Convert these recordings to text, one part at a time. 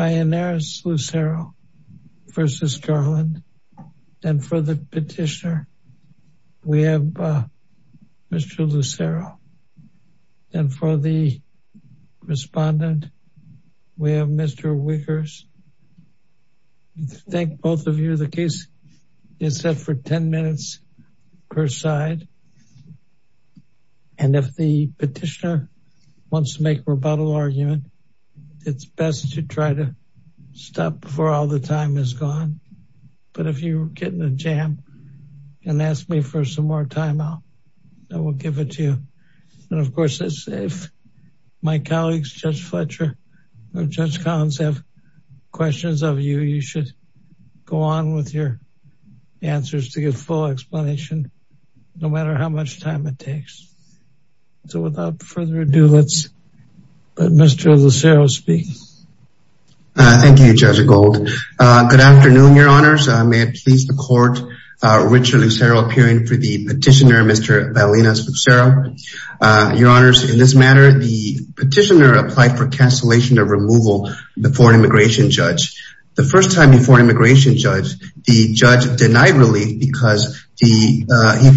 and for the petitioner we have Mr. Lucero and for the respondent we have Mr. Wickers. Thank both of you. The case is set for 10 minutes per side and if the petitioner wants to make a rebuttal argument it's best to try to stop before all the time is gone. But if you get in a jam and ask me for some more time I will give it to you. And of course if my colleagues Judge Fletcher or Judge Collins have questions of you, you should go on with your answers to get full explanation no matter how much time it takes. So without further ado let's let Mr. Lucero speak. Thank you Judge Gold. Good afternoon your honors. May it please the court Richard Lucero appearing for the petitioner Mr. Ballinas-Lucero. Your honors in this matter the petitioner applied for cancellation of removal before an immigration judge. The first time before an immigration judge the judge denied relief because he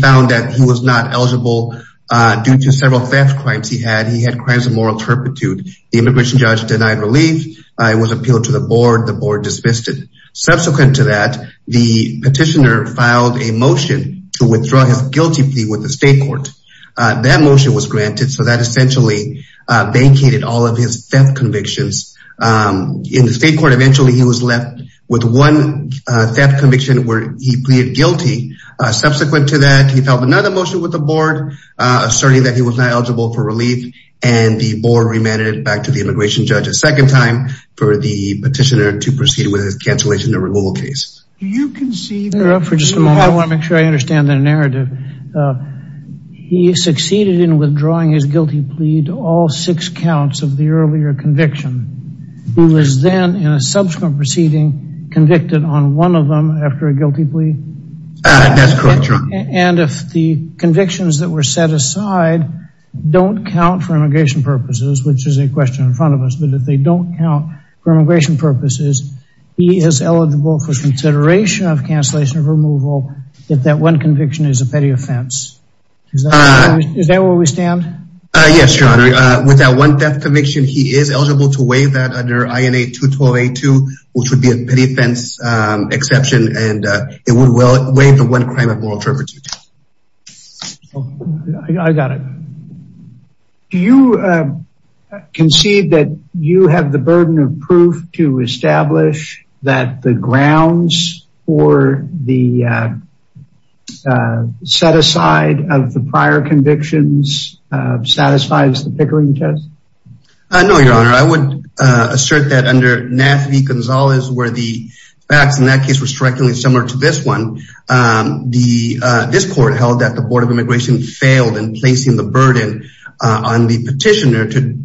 found that he was not eligible due to several theft crimes he had. He had crimes of moral turpitude. The immigration judge denied relief. It was appealed to the board. The board dismissed it. Subsequent to that the petitioner filed a motion to withdraw his guilty plea with the state court. That motion was granted so that essentially vacated all of his theft convictions. In the state court eventually he was left with one theft conviction where he pleaded guilty. Subsequent to that he filed another motion with the board asserting that he was not eligible for relief and the board remanded it back to the immigration judge a second time for the petitioner to proceed with his cancellation of removal case. Do you concede? I want to make sure I understand the narrative. He succeeded in withdrawing his guilty plea to all six counts of the earlier conviction. He was then in a subsequent proceeding convicted on one of them after a guilty plea. That's correct. And if the convictions that were set aside don't count for immigration purposes which is a question in front of us but if they don't count for immigration purposes he is eligible for consideration of cancellation of removal if that one conviction is a petty offense. Is that where we stand? Yes your honor. With that one theft conviction he is eligible to waive that under INA 212A2 which would be a petty offense exception and it would waive the one crime of moral turpitude. I got it. Do you concede that you have the burden of proof to establish that the grounds for the set aside of the prior convictions satisfies the Pickering test? No your honor. I assert that under NAFV Gonzalez where the facts in that case were strikingly similar to this one this court held that the board of immigration failed in placing the burden on the petitioner to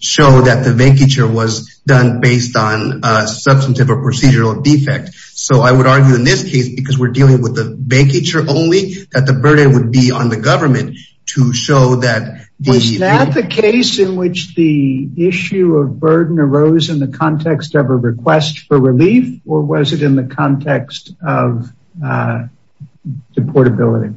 show that the vacature was done based on a substantive or procedural defect. So I would argue in this case because we're dealing with the vacature only that the burden would be on government to show that. Was that the case in which the issue of burden arose in the context of a request for relief or was it in the context of deportability?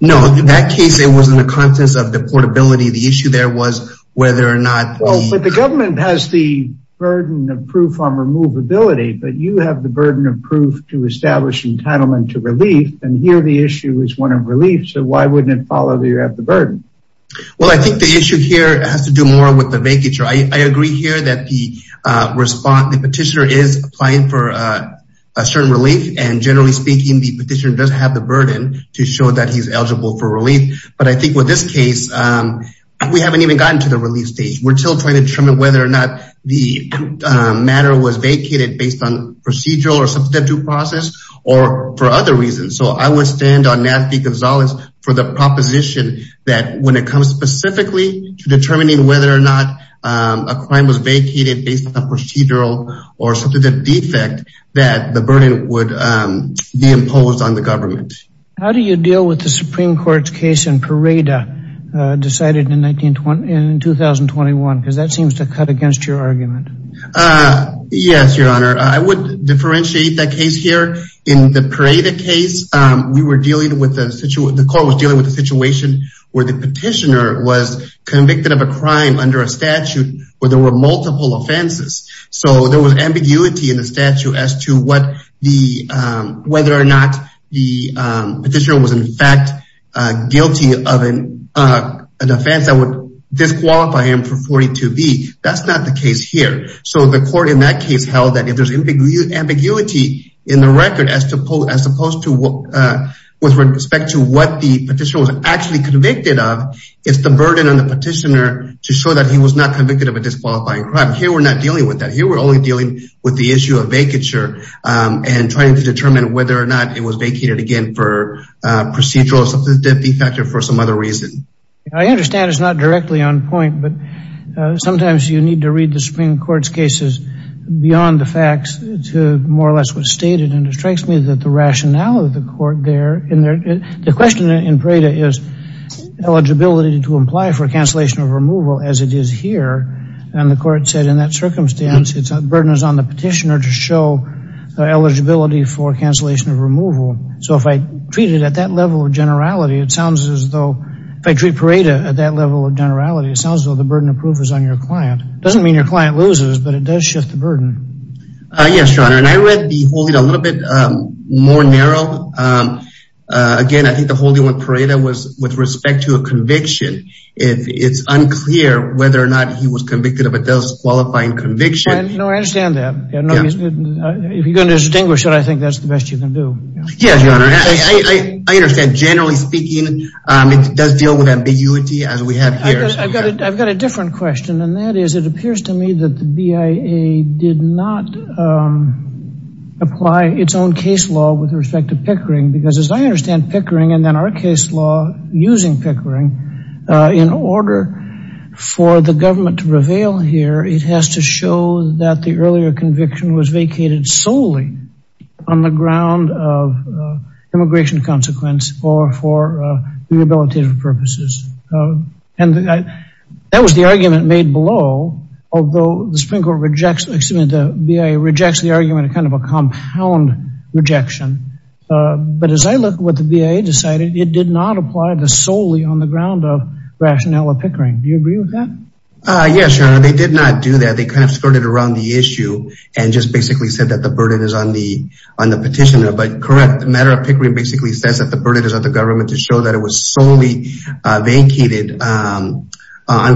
No in that case it was in the context of deportability the issue there was whether or not. Well but the government has the burden of proof on removability but you have the burden of proof to establish entitlement to relief and here the issue is one of relief so why wouldn't it follow that you have the burden? Well I think the issue here has to do more with the vacature. I agree here that the respond the petitioner is applying for a certain relief and generally speaking the petitioner does have the burden to show that he's eligible for relief but I think with this case we haven't even gotten to the relief stage. We're still trying to determine whether or not the matter was vacated based on procedural or substantive process or for other reasons. So I would stand on Navdeep Gonzalez for the proposition that when it comes specifically to determining whether or not a crime was vacated based on procedural or something the defect that the burden would be imposed on the government. How do you deal with the Supreme Court's case in Pareda decided in 1920 in 2021 because that seems to cut against your argument. Yes your honor I would differentiate that case here in the Pareda case we were dealing with a situation the court was dealing with a situation where the petitioner was convicted of a crime under a statute where there were multiple offenses so there was ambiguity in the statute as to what whether or not the petitioner was in fact guilty of an offense that would disqualify him for 42B. That's not the case here so the court in that case held that if there's ambiguity in the record as opposed to what with respect to what the petitioner was actually convicted of it's the burden on the petitioner to show that he was not convicted of a disqualifying crime. Here we're only dealing with the issue of vacature and trying to determine whether or not it was vacated again for procedural or something defective for some other reason. I understand it's not directly on point but sometimes you need to read the Supreme Court's cases beyond the facts to more or less what's stated and it strikes me that the rationale of the court there in there the question in Pareda is eligibility to imply for cancellation of removal as it is here and the court said in circumstance it's a burden is on the petitioner to show the eligibility for cancellation of removal so if I treat it at that level of generality it sounds as though if I treat Pareda at that level of generality it sounds though the burden of proof is on your client. It doesn't mean your client loses but it does shift the burden. Yes your honor and I read the holding a little bit more narrow again I think the holding with Pareda was with respect to a conviction if it's unclear whether or not he was convicted of a disqualifying conviction. No I understand that if you're going to distinguish that I think that's the best you can do. Yes your honor I understand generally speaking it does deal with ambiguity as we have here. I've got a different question and that is it appears to me that the BIA did not apply its own case law with respect to Pickering because as I understand Pickering and then our case law using Pickering in order for the government to reveal here it has to show that the earlier conviction was vacated solely on the ground of immigration consequence or for rehabilitative purposes and that was the argument made below although the Supreme Court rejects excuse me the BIA rejects the argument a kind of a compound rejection but as I look what the BIA decided it did not apply the solely on the ground of rationale of Pickering. Do you agree with that? Yes your honor they did not do that they kind of skirted around the issue and just basically said that the burden is on the on the petitioner but correct matter of Pickering basically says that the burden is on the government to show that it was solely vacated on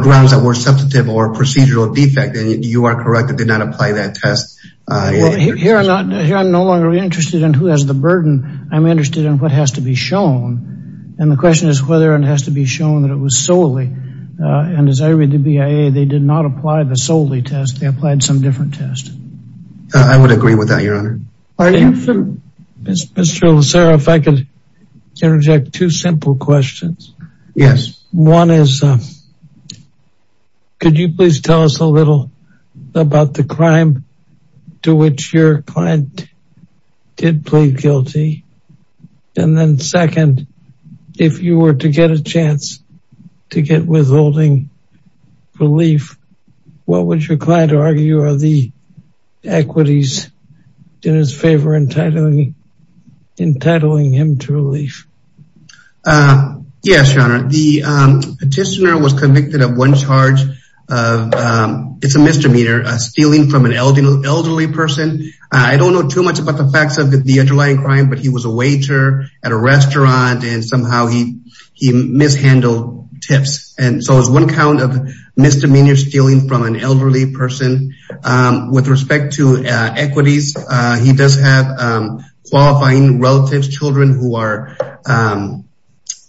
grounds that were substantive or procedural defect and you are correct it did not apply that test uh here I'm not here I'm no longer interested in who has the burden I'm interested in what has to be shown and the question is whether it has to be shown that it was solely uh and as I read the BIA they did not apply the solely test they applied some different test. I would agree with that your honor. Mr. Lucero if I could interject two simple questions. Yes. One is could you please tell us a little about the crime to which your client did plead guilty and then second if you were to get a chance to get withholding relief what would your client argue are the equities in his favor entitling him to relief? Uh yes your honor the um petitioner was convicted of one charge of um it's a misdemeanor a stealing from an elderly elderly person I don't know too much about the facts of the underlying crime but he was a waiter at a restaurant and somehow he he mishandled tips and so it's one count of misdemeanor stealing from an elderly person um with respect to uh equities uh he does have um relatives children who are um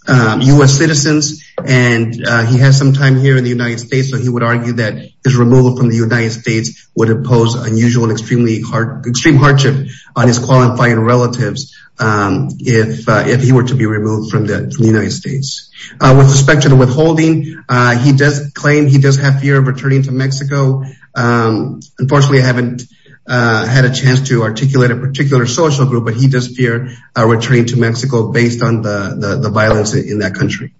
um U.S. citizens and uh he has some time here in the United States so he would argue that his removal from the United States would impose unusual and extremely hard extreme hardship on his qualifying relatives um if uh if he were to be removed from the from the United States uh with respect to the withholding uh he does claim he does have fear of returning to Mexico um unfortunately I haven't uh had a chance to articulate a particular social group but he does fear a return to Mexico based on the the violence in that country.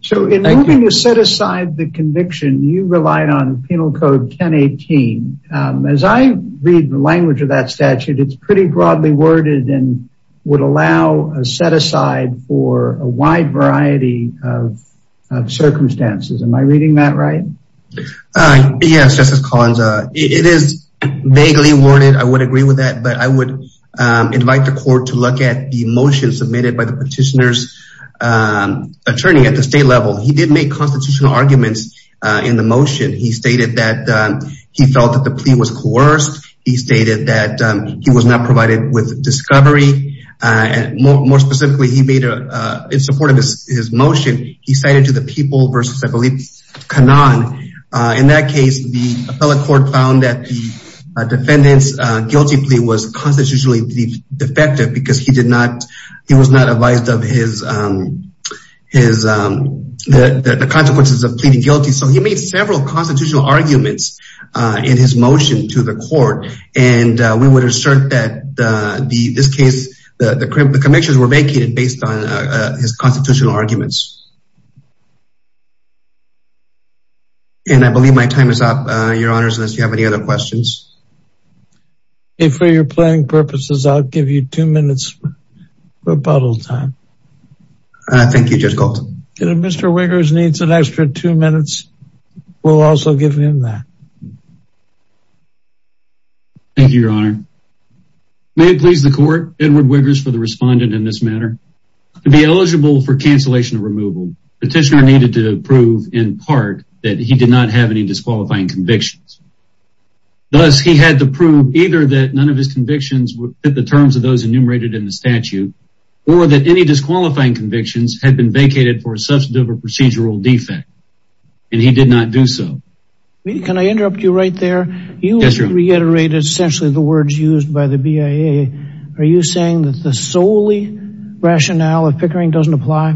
So in order to set aside the conviction you relied on penal code 1018 um as I read the language of that statute it's pretty broadly worded and would allow a set aside for a wide variety of circumstances am I reading that right? Uh yes Justice Collins uh it is vaguely worded I would agree with that but I would invite the court to look at the motion submitted by the petitioner's attorney at the state level he did make constitutional arguments in the motion he stated that he felt that the plea was coerced he stated that he was not provided with discovery and more specifically he made a in support of his motion he cited to the people versus I believe Canan uh in that case the appellate court found that the defendant's guilty plea was constitutionally defective because he did not he was not advised of his um his um the the consequences of pleading guilty so he made several constitutional arguments in his motion to the court and we would assert that the this case the the convictions were vacated based on his constitutional arguments. And I believe my time is up uh your honors unless you have any other questions. If for your playing purposes I'll give you two minutes rebuttal time. Uh thank you Judge Colton. If Mr. Wiggers needs an extra two minutes we'll also give him that. Thank you your honor may it please the court Edward Wiggers for the respondent in this matter to be eligible for cancellation of removal petitioner needed to prove in part that he did not have any disqualifying convictions thus he had to prove either that none of his convictions would fit the terms of those enumerated in the statute or that any disqualifying convictions had been vacated for a substantive or procedural defect and he did not do so. Can I interrupt you right there? Yes your honor. You reiterated essentially the words used by the Pickering doesn't apply?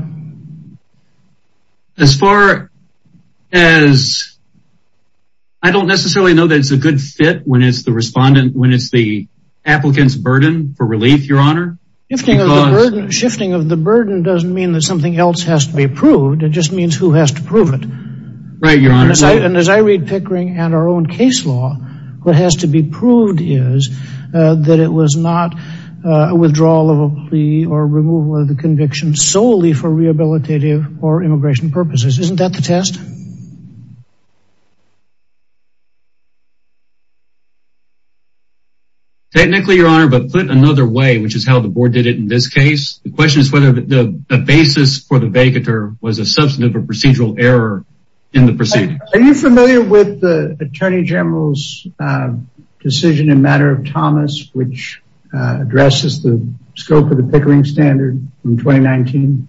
As far as I don't necessarily know that it's a good fit when it's the respondent when it's the applicant's burden for relief your honor. Shifting of the burden doesn't mean that something else has to be approved it just means who has to prove it. Right your honor. And as I read Pickering and our own case law what has to be proved is that it was not a withdrawal of a plea or removal of the conviction solely for rehabilitative or immigration purposes. Isn't that the test? Technically your honor but put another way which is how the board did it in this case the question is whether the basis for the vacator was a substantive or procedural error in the proceedings. Are you familiar with the attorney general's decision in matter of Thomas which addresses the scope of the Pickering standard from 2019?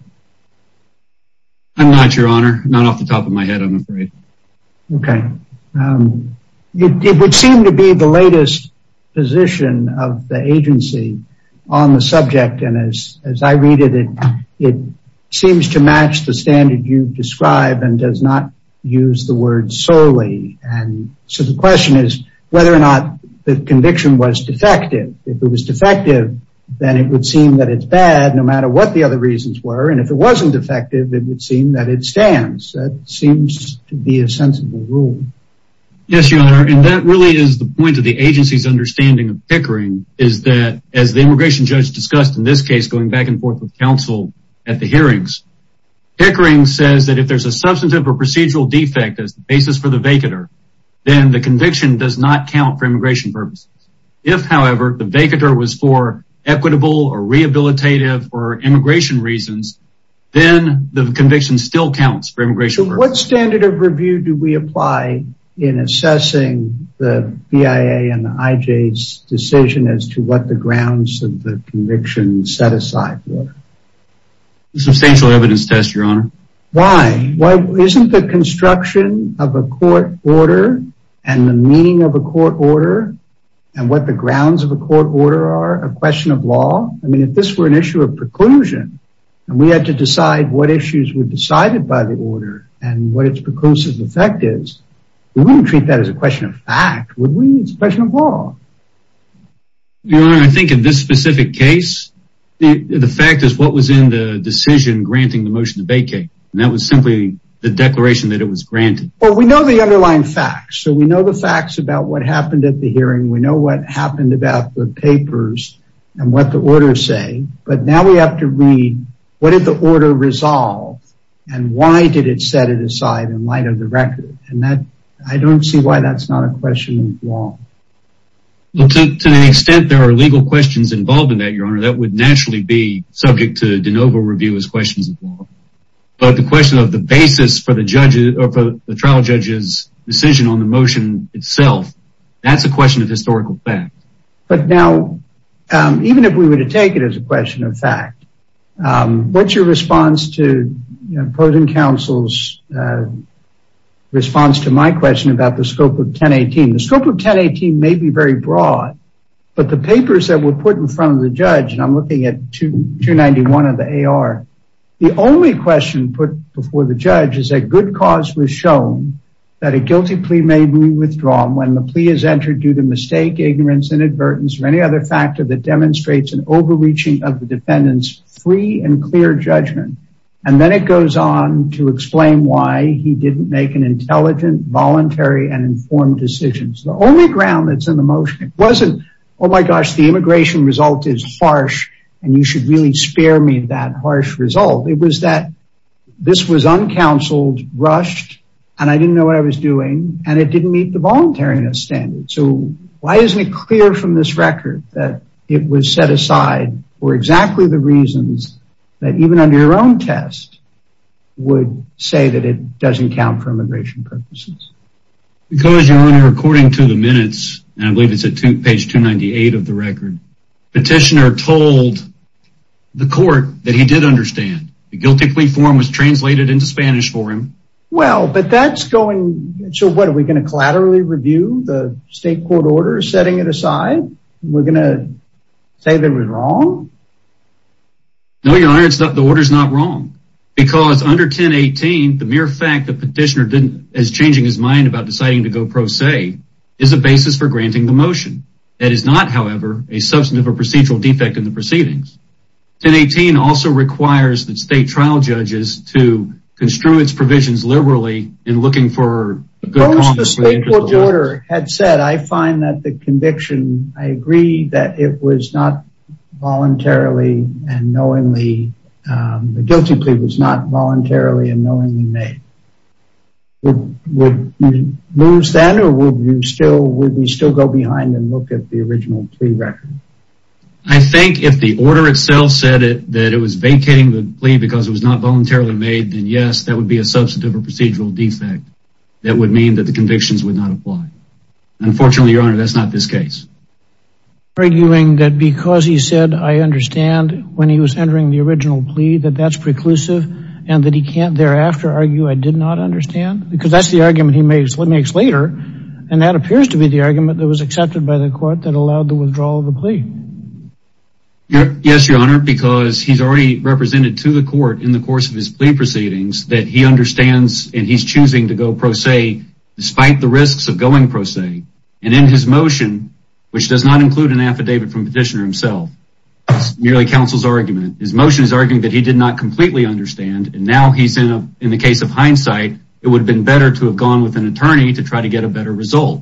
I'm not your honor not off the top of my head I'm afraid. Okay it would seem to be the latest position of the agency on the subject and as I read it it seems to match the standard you describe and does not use the word solely and so the question is whether or not the conviction was defective. If it was defective then it would seem that it's bad no matter what the other reasons were and if it wasn't defective it would seem that it stands that seems to be a sensible rule. Yes your honor and that really is the point of the agency's understanding of Pickering is that as the immigration judge discussed in this case going back and forth with counsel at the hearings. Pickering says that if there's a substantive or procedural defect as the basis for the vacator then the conviction does not count for immigration purposes. If however the vacator was for equitable or rehabilitative or immigration reasons then the conviction still counts for immigration. What standard of review do we apply in assessing the BIA and the IJ's decision as to what the grounds of the conviction set aside? Substantial evidence test your honor. Why? Why isn't the construction of a court order and the meaning of a court order and what the grounds of a court order are a question of law? I mean if this were an issue of preclusion and we had to decide what and what its preclusive effect is we wouldn't treat that as a question of fact would we? It's a question of law. Your honor I think in this specific case the fact is what was in the decision granting the motion to vacate and that was simply the declaration that it was granted. Well we know the underlying facts so we know the facts about what happened at the hearing we know what happened about the papers and what the orders say but now we have to read what did the order resolve and why did it set it aside in light of the record and that I don't see why that's not a question of law. Well to an extent there are legal questions involved in that your honor that would naturally be subject to de novo review as questions of law but the question of the basis for the judge or for the trial judge's decision on the motion itself that's a question of historical fact. But now even if we were to take it as a question of fact what's your response to opposing counsel's response to my question about the scope of 1018? The scope of 1018 may be very broad but the papers that were put in front of the judge and I'm looking at 291 of the AR the only question put before the judge is that good cause was shown that a guilty plea may be any other factor that demonstrates an overreaching of the defendant's free and clear judgment and then it goes on to explain why he didn't make an intelligent voluntary and informed decision. The only ground that's in the motion wasn't oh my gosh the immigration result is harsh and you should really spare me that harsh result it was that this was uncounseled rushed and I didn't know what I was doing and it didn't meet the voluntariness standard so why isn't it clear from this record that it was set aside for exactly the reasons that even under your own test would say that it doesn't count for immigration purposes? Because your honor according to the minutes and I believe it's at page 298 of the record petitioner told the court that he did understand the guilty plea form was translated into Spanish for him. Well but that's going so what are we going to collaterally review the state court order setting it aside we're going to say that was wrong? No your honor it's not the order is not wrong because under 1018 the mere fact that petitioner didn't as changing his mind about deciding to go pro se is a basis for granting the motion that is not however a substantive or procedural defect in the proceedings. 1018 also requires that state trial judges to construe its provisions liberally in looking for a good order had said I find that the conviction I agree that it was not voluntarily and knowingly the guilty plea was not voluntarily and knowingly made. Would you lose that or would you still would we still go behind and look at the original plea record? I think if the order itself said that it was vacating the plea because it was not that the convictions would not apply unfortunately your honor that's not this case. Arguing that because he said I understand when he was entering the original plea that that's preclusive and that he can't thereafter argue I did not understand because that's the argument he makes let me explain later and that appears to be the argument that was accepted by the court that allowed the withdrawal of the plea. Yes your honor because he's already represented to the court in the course of his plea proceedings that he understands and he's choosing to go pro se despite the risks of going pro se and in his motion which does not include an affidavit from petitioner himself merely counsel's argument his motion is arguing that he did not completely understand and now he's in a in the case of hindsight it would have been better to have gone with an attorney to try to get a better result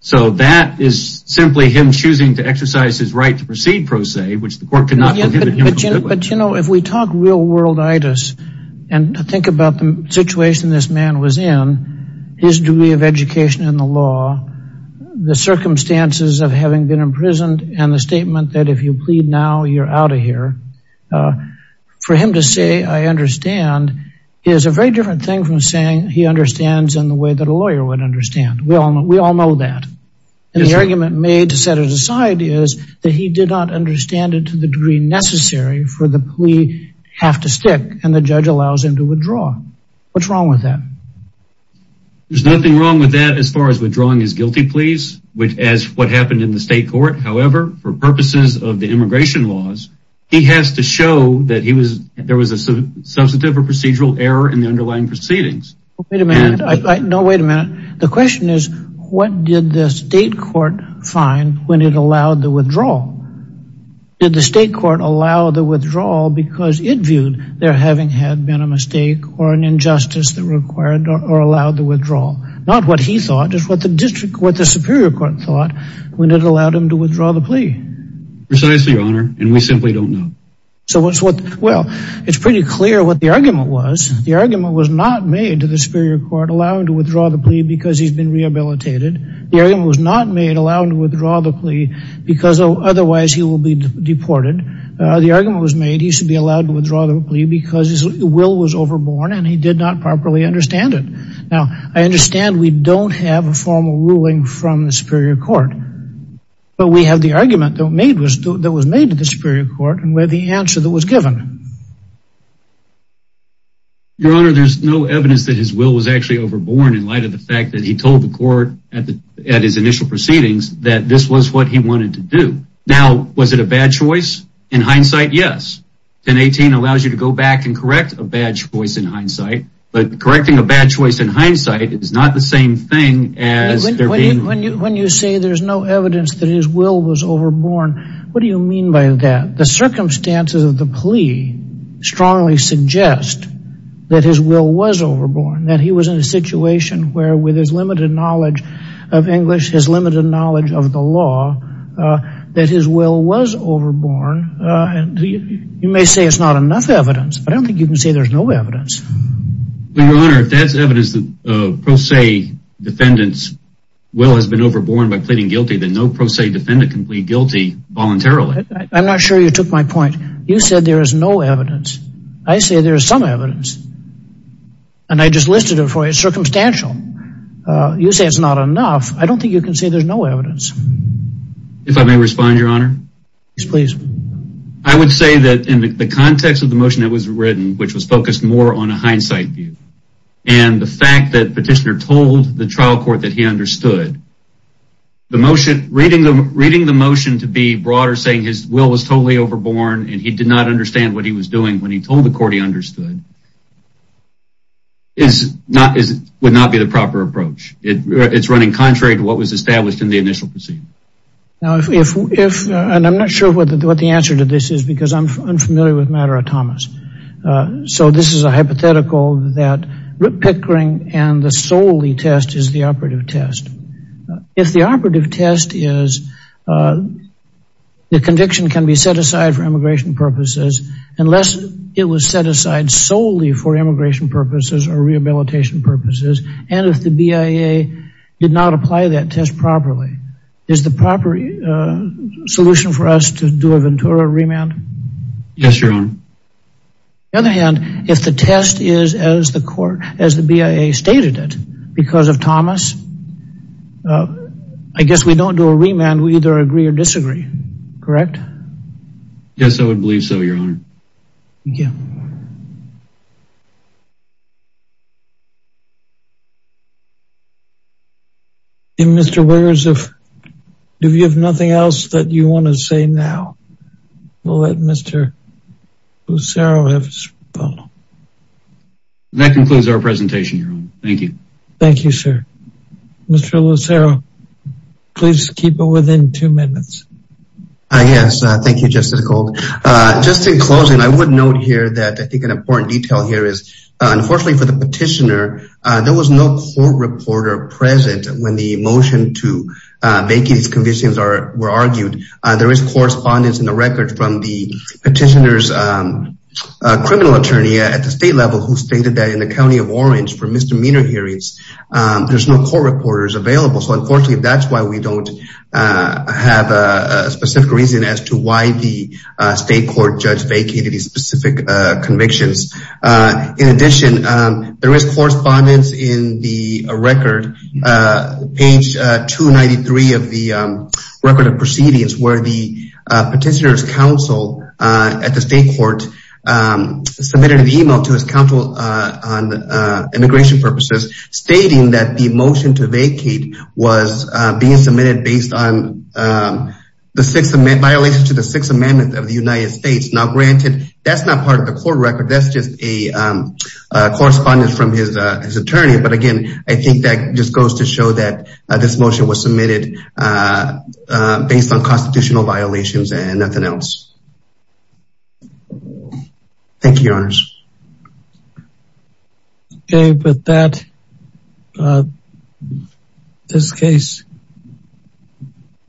so that is simply him choosing to exercise his right to proceed pro se which the court could not but you know if we talk real world itis and think about the situation this man was in his degree of education in the law the circumstances of having been imprisoned and the statement that if you plead now you're out of here for him to say I understand is a very different thing from saying he understands in the way that we all know we all know that and the argument made to set it aside is that he did not understand it to the degree necessary for the plea have to stick and the judge allows him to withdraw what's wrong with that there's nothing wrong with that as far as withdrawing his guilty pleas which as what happened in the state court however for purposes of the immigration laws he has to show that he was there was a substantive or procedural error in the underlying proceedings wait a minute I know wait a minute the question is what did the state court find when it allowed the withdrawal did the state court allow the withdrawal because it viewed there having had been a mistake or an injustice that required or allowed the withdrawal not what he thought just what the district what the superior court thought when it allowed him to withdraw the plea precisely your honor and we simply don't know so what's what well it's pretty clear what the argument was the argument was not made to the superior court allowing to withdraw the plea because he's been rehabilitated the argument was not made allowing to withdraw the plea because otherwise he will be deported the argument was made he should be allowed to withdraw the plea because his will was overborne and he did not properly understand it now I understand we don't have a formal ruling from the superior court but we have the argument that made was that was made to the superior court and where the answer that was given your honor there's no evidence that his will was actually overborne in light of the fact that he told the court at the at his initial proceedings that this was what he wanted to do now was it a bad choice in hindsight yes 1018 allows you to go back and correct a bad choice in hindsight but correcting a bad choice in hindsight is not the same thing as when you when you say there's no evidence that his will was overborn what do you mean by that the circumstances of the plea strongly suggest that his will was overborn that he was in a situation where with his limited knowledge of English his limited knowledge of the law that his will was overborn and you may say it's not enough evidence but I don't think you can say there's no evidence your honor if that's evidence that uh pro se defendant's will has been voluntarily I'm not sure you took my point you said there is no evidence I say there is some evidence and I just listed it for you circumstantial uh you say it's not enough I don't think you can say there's no evidence if I may respond your honor yes please I would say that in the context of the motion that was written which was focused more on a hindsight view and the fact that petitioner told the trial court that he understood the motion reading the reading the motion to be broader saying his will was totally overborn and he did not understand what he was doing when he told the court he understood is not is would not be the proper approach it's running contrary to what was established in the initial proceeding now if if and I'm not sure what the answer to this is because I'm unfamiliar with matter of Thomas so this is a hypothetical that Rip Pickering and the solely test is the operative test if the operative test is the conviction can be set aside for immigration purposes unless it was set aside solely for immigration purposes or rehabilitation purposes and if the BIA did not apply that test properly is the proper solution for us to do a stated it because of Thomas uh I guess we don't do a remand we either agree or disagree correct yes I would believe so your honor thank you and Mr. Wears if if you have nothing else that you want to say now we'll let Mr. Lucero have his phone that concludes our presentation your honor thank you thank you sir Mr. Lucero please keep it within two minutes I guess thank you Justice Gold uh just in closing I would note here that I think an important detail here is unfortunately for the petitioner uh there was no court reporter present when the motion to vacate these convictions are were argued there is correspondence in the record from the petitioner's criminal attorney at the state level who stated that in the county of Orange for misdemeanor hearings there's no court reporters available so unfortunately that's why we don't have a specific reason as to why the state court judge vacated these specific convictions in addition there is correspondence in the record page 293 of the record of proceedings where the petitioner's counsel at the state court submitted an email to his counsel on immigration purposes stating that the motion to vacate was being submitted based on the sixth amendment violation to the sixth amendment of the United States now granted that's not part of the court record that's a correspondence from his attorney but again I think that just goes to show that this motion was submitted based on constitutional violations and nothing else thank you your honors okay with that this case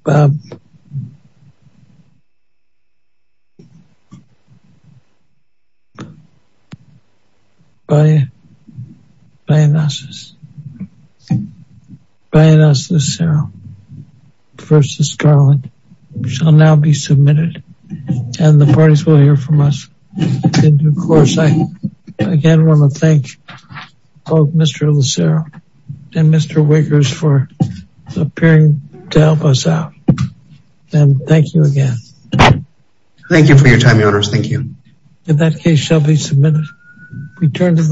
by by analysis by analysis zero versus scarlet shall now be submitted and the parties will hear from us and of course I again want to thank both Mr. Lucero and Mr. Wickers for appearing to help us out and thank you again thank you for your time your honors thank you in that case shall be returned to the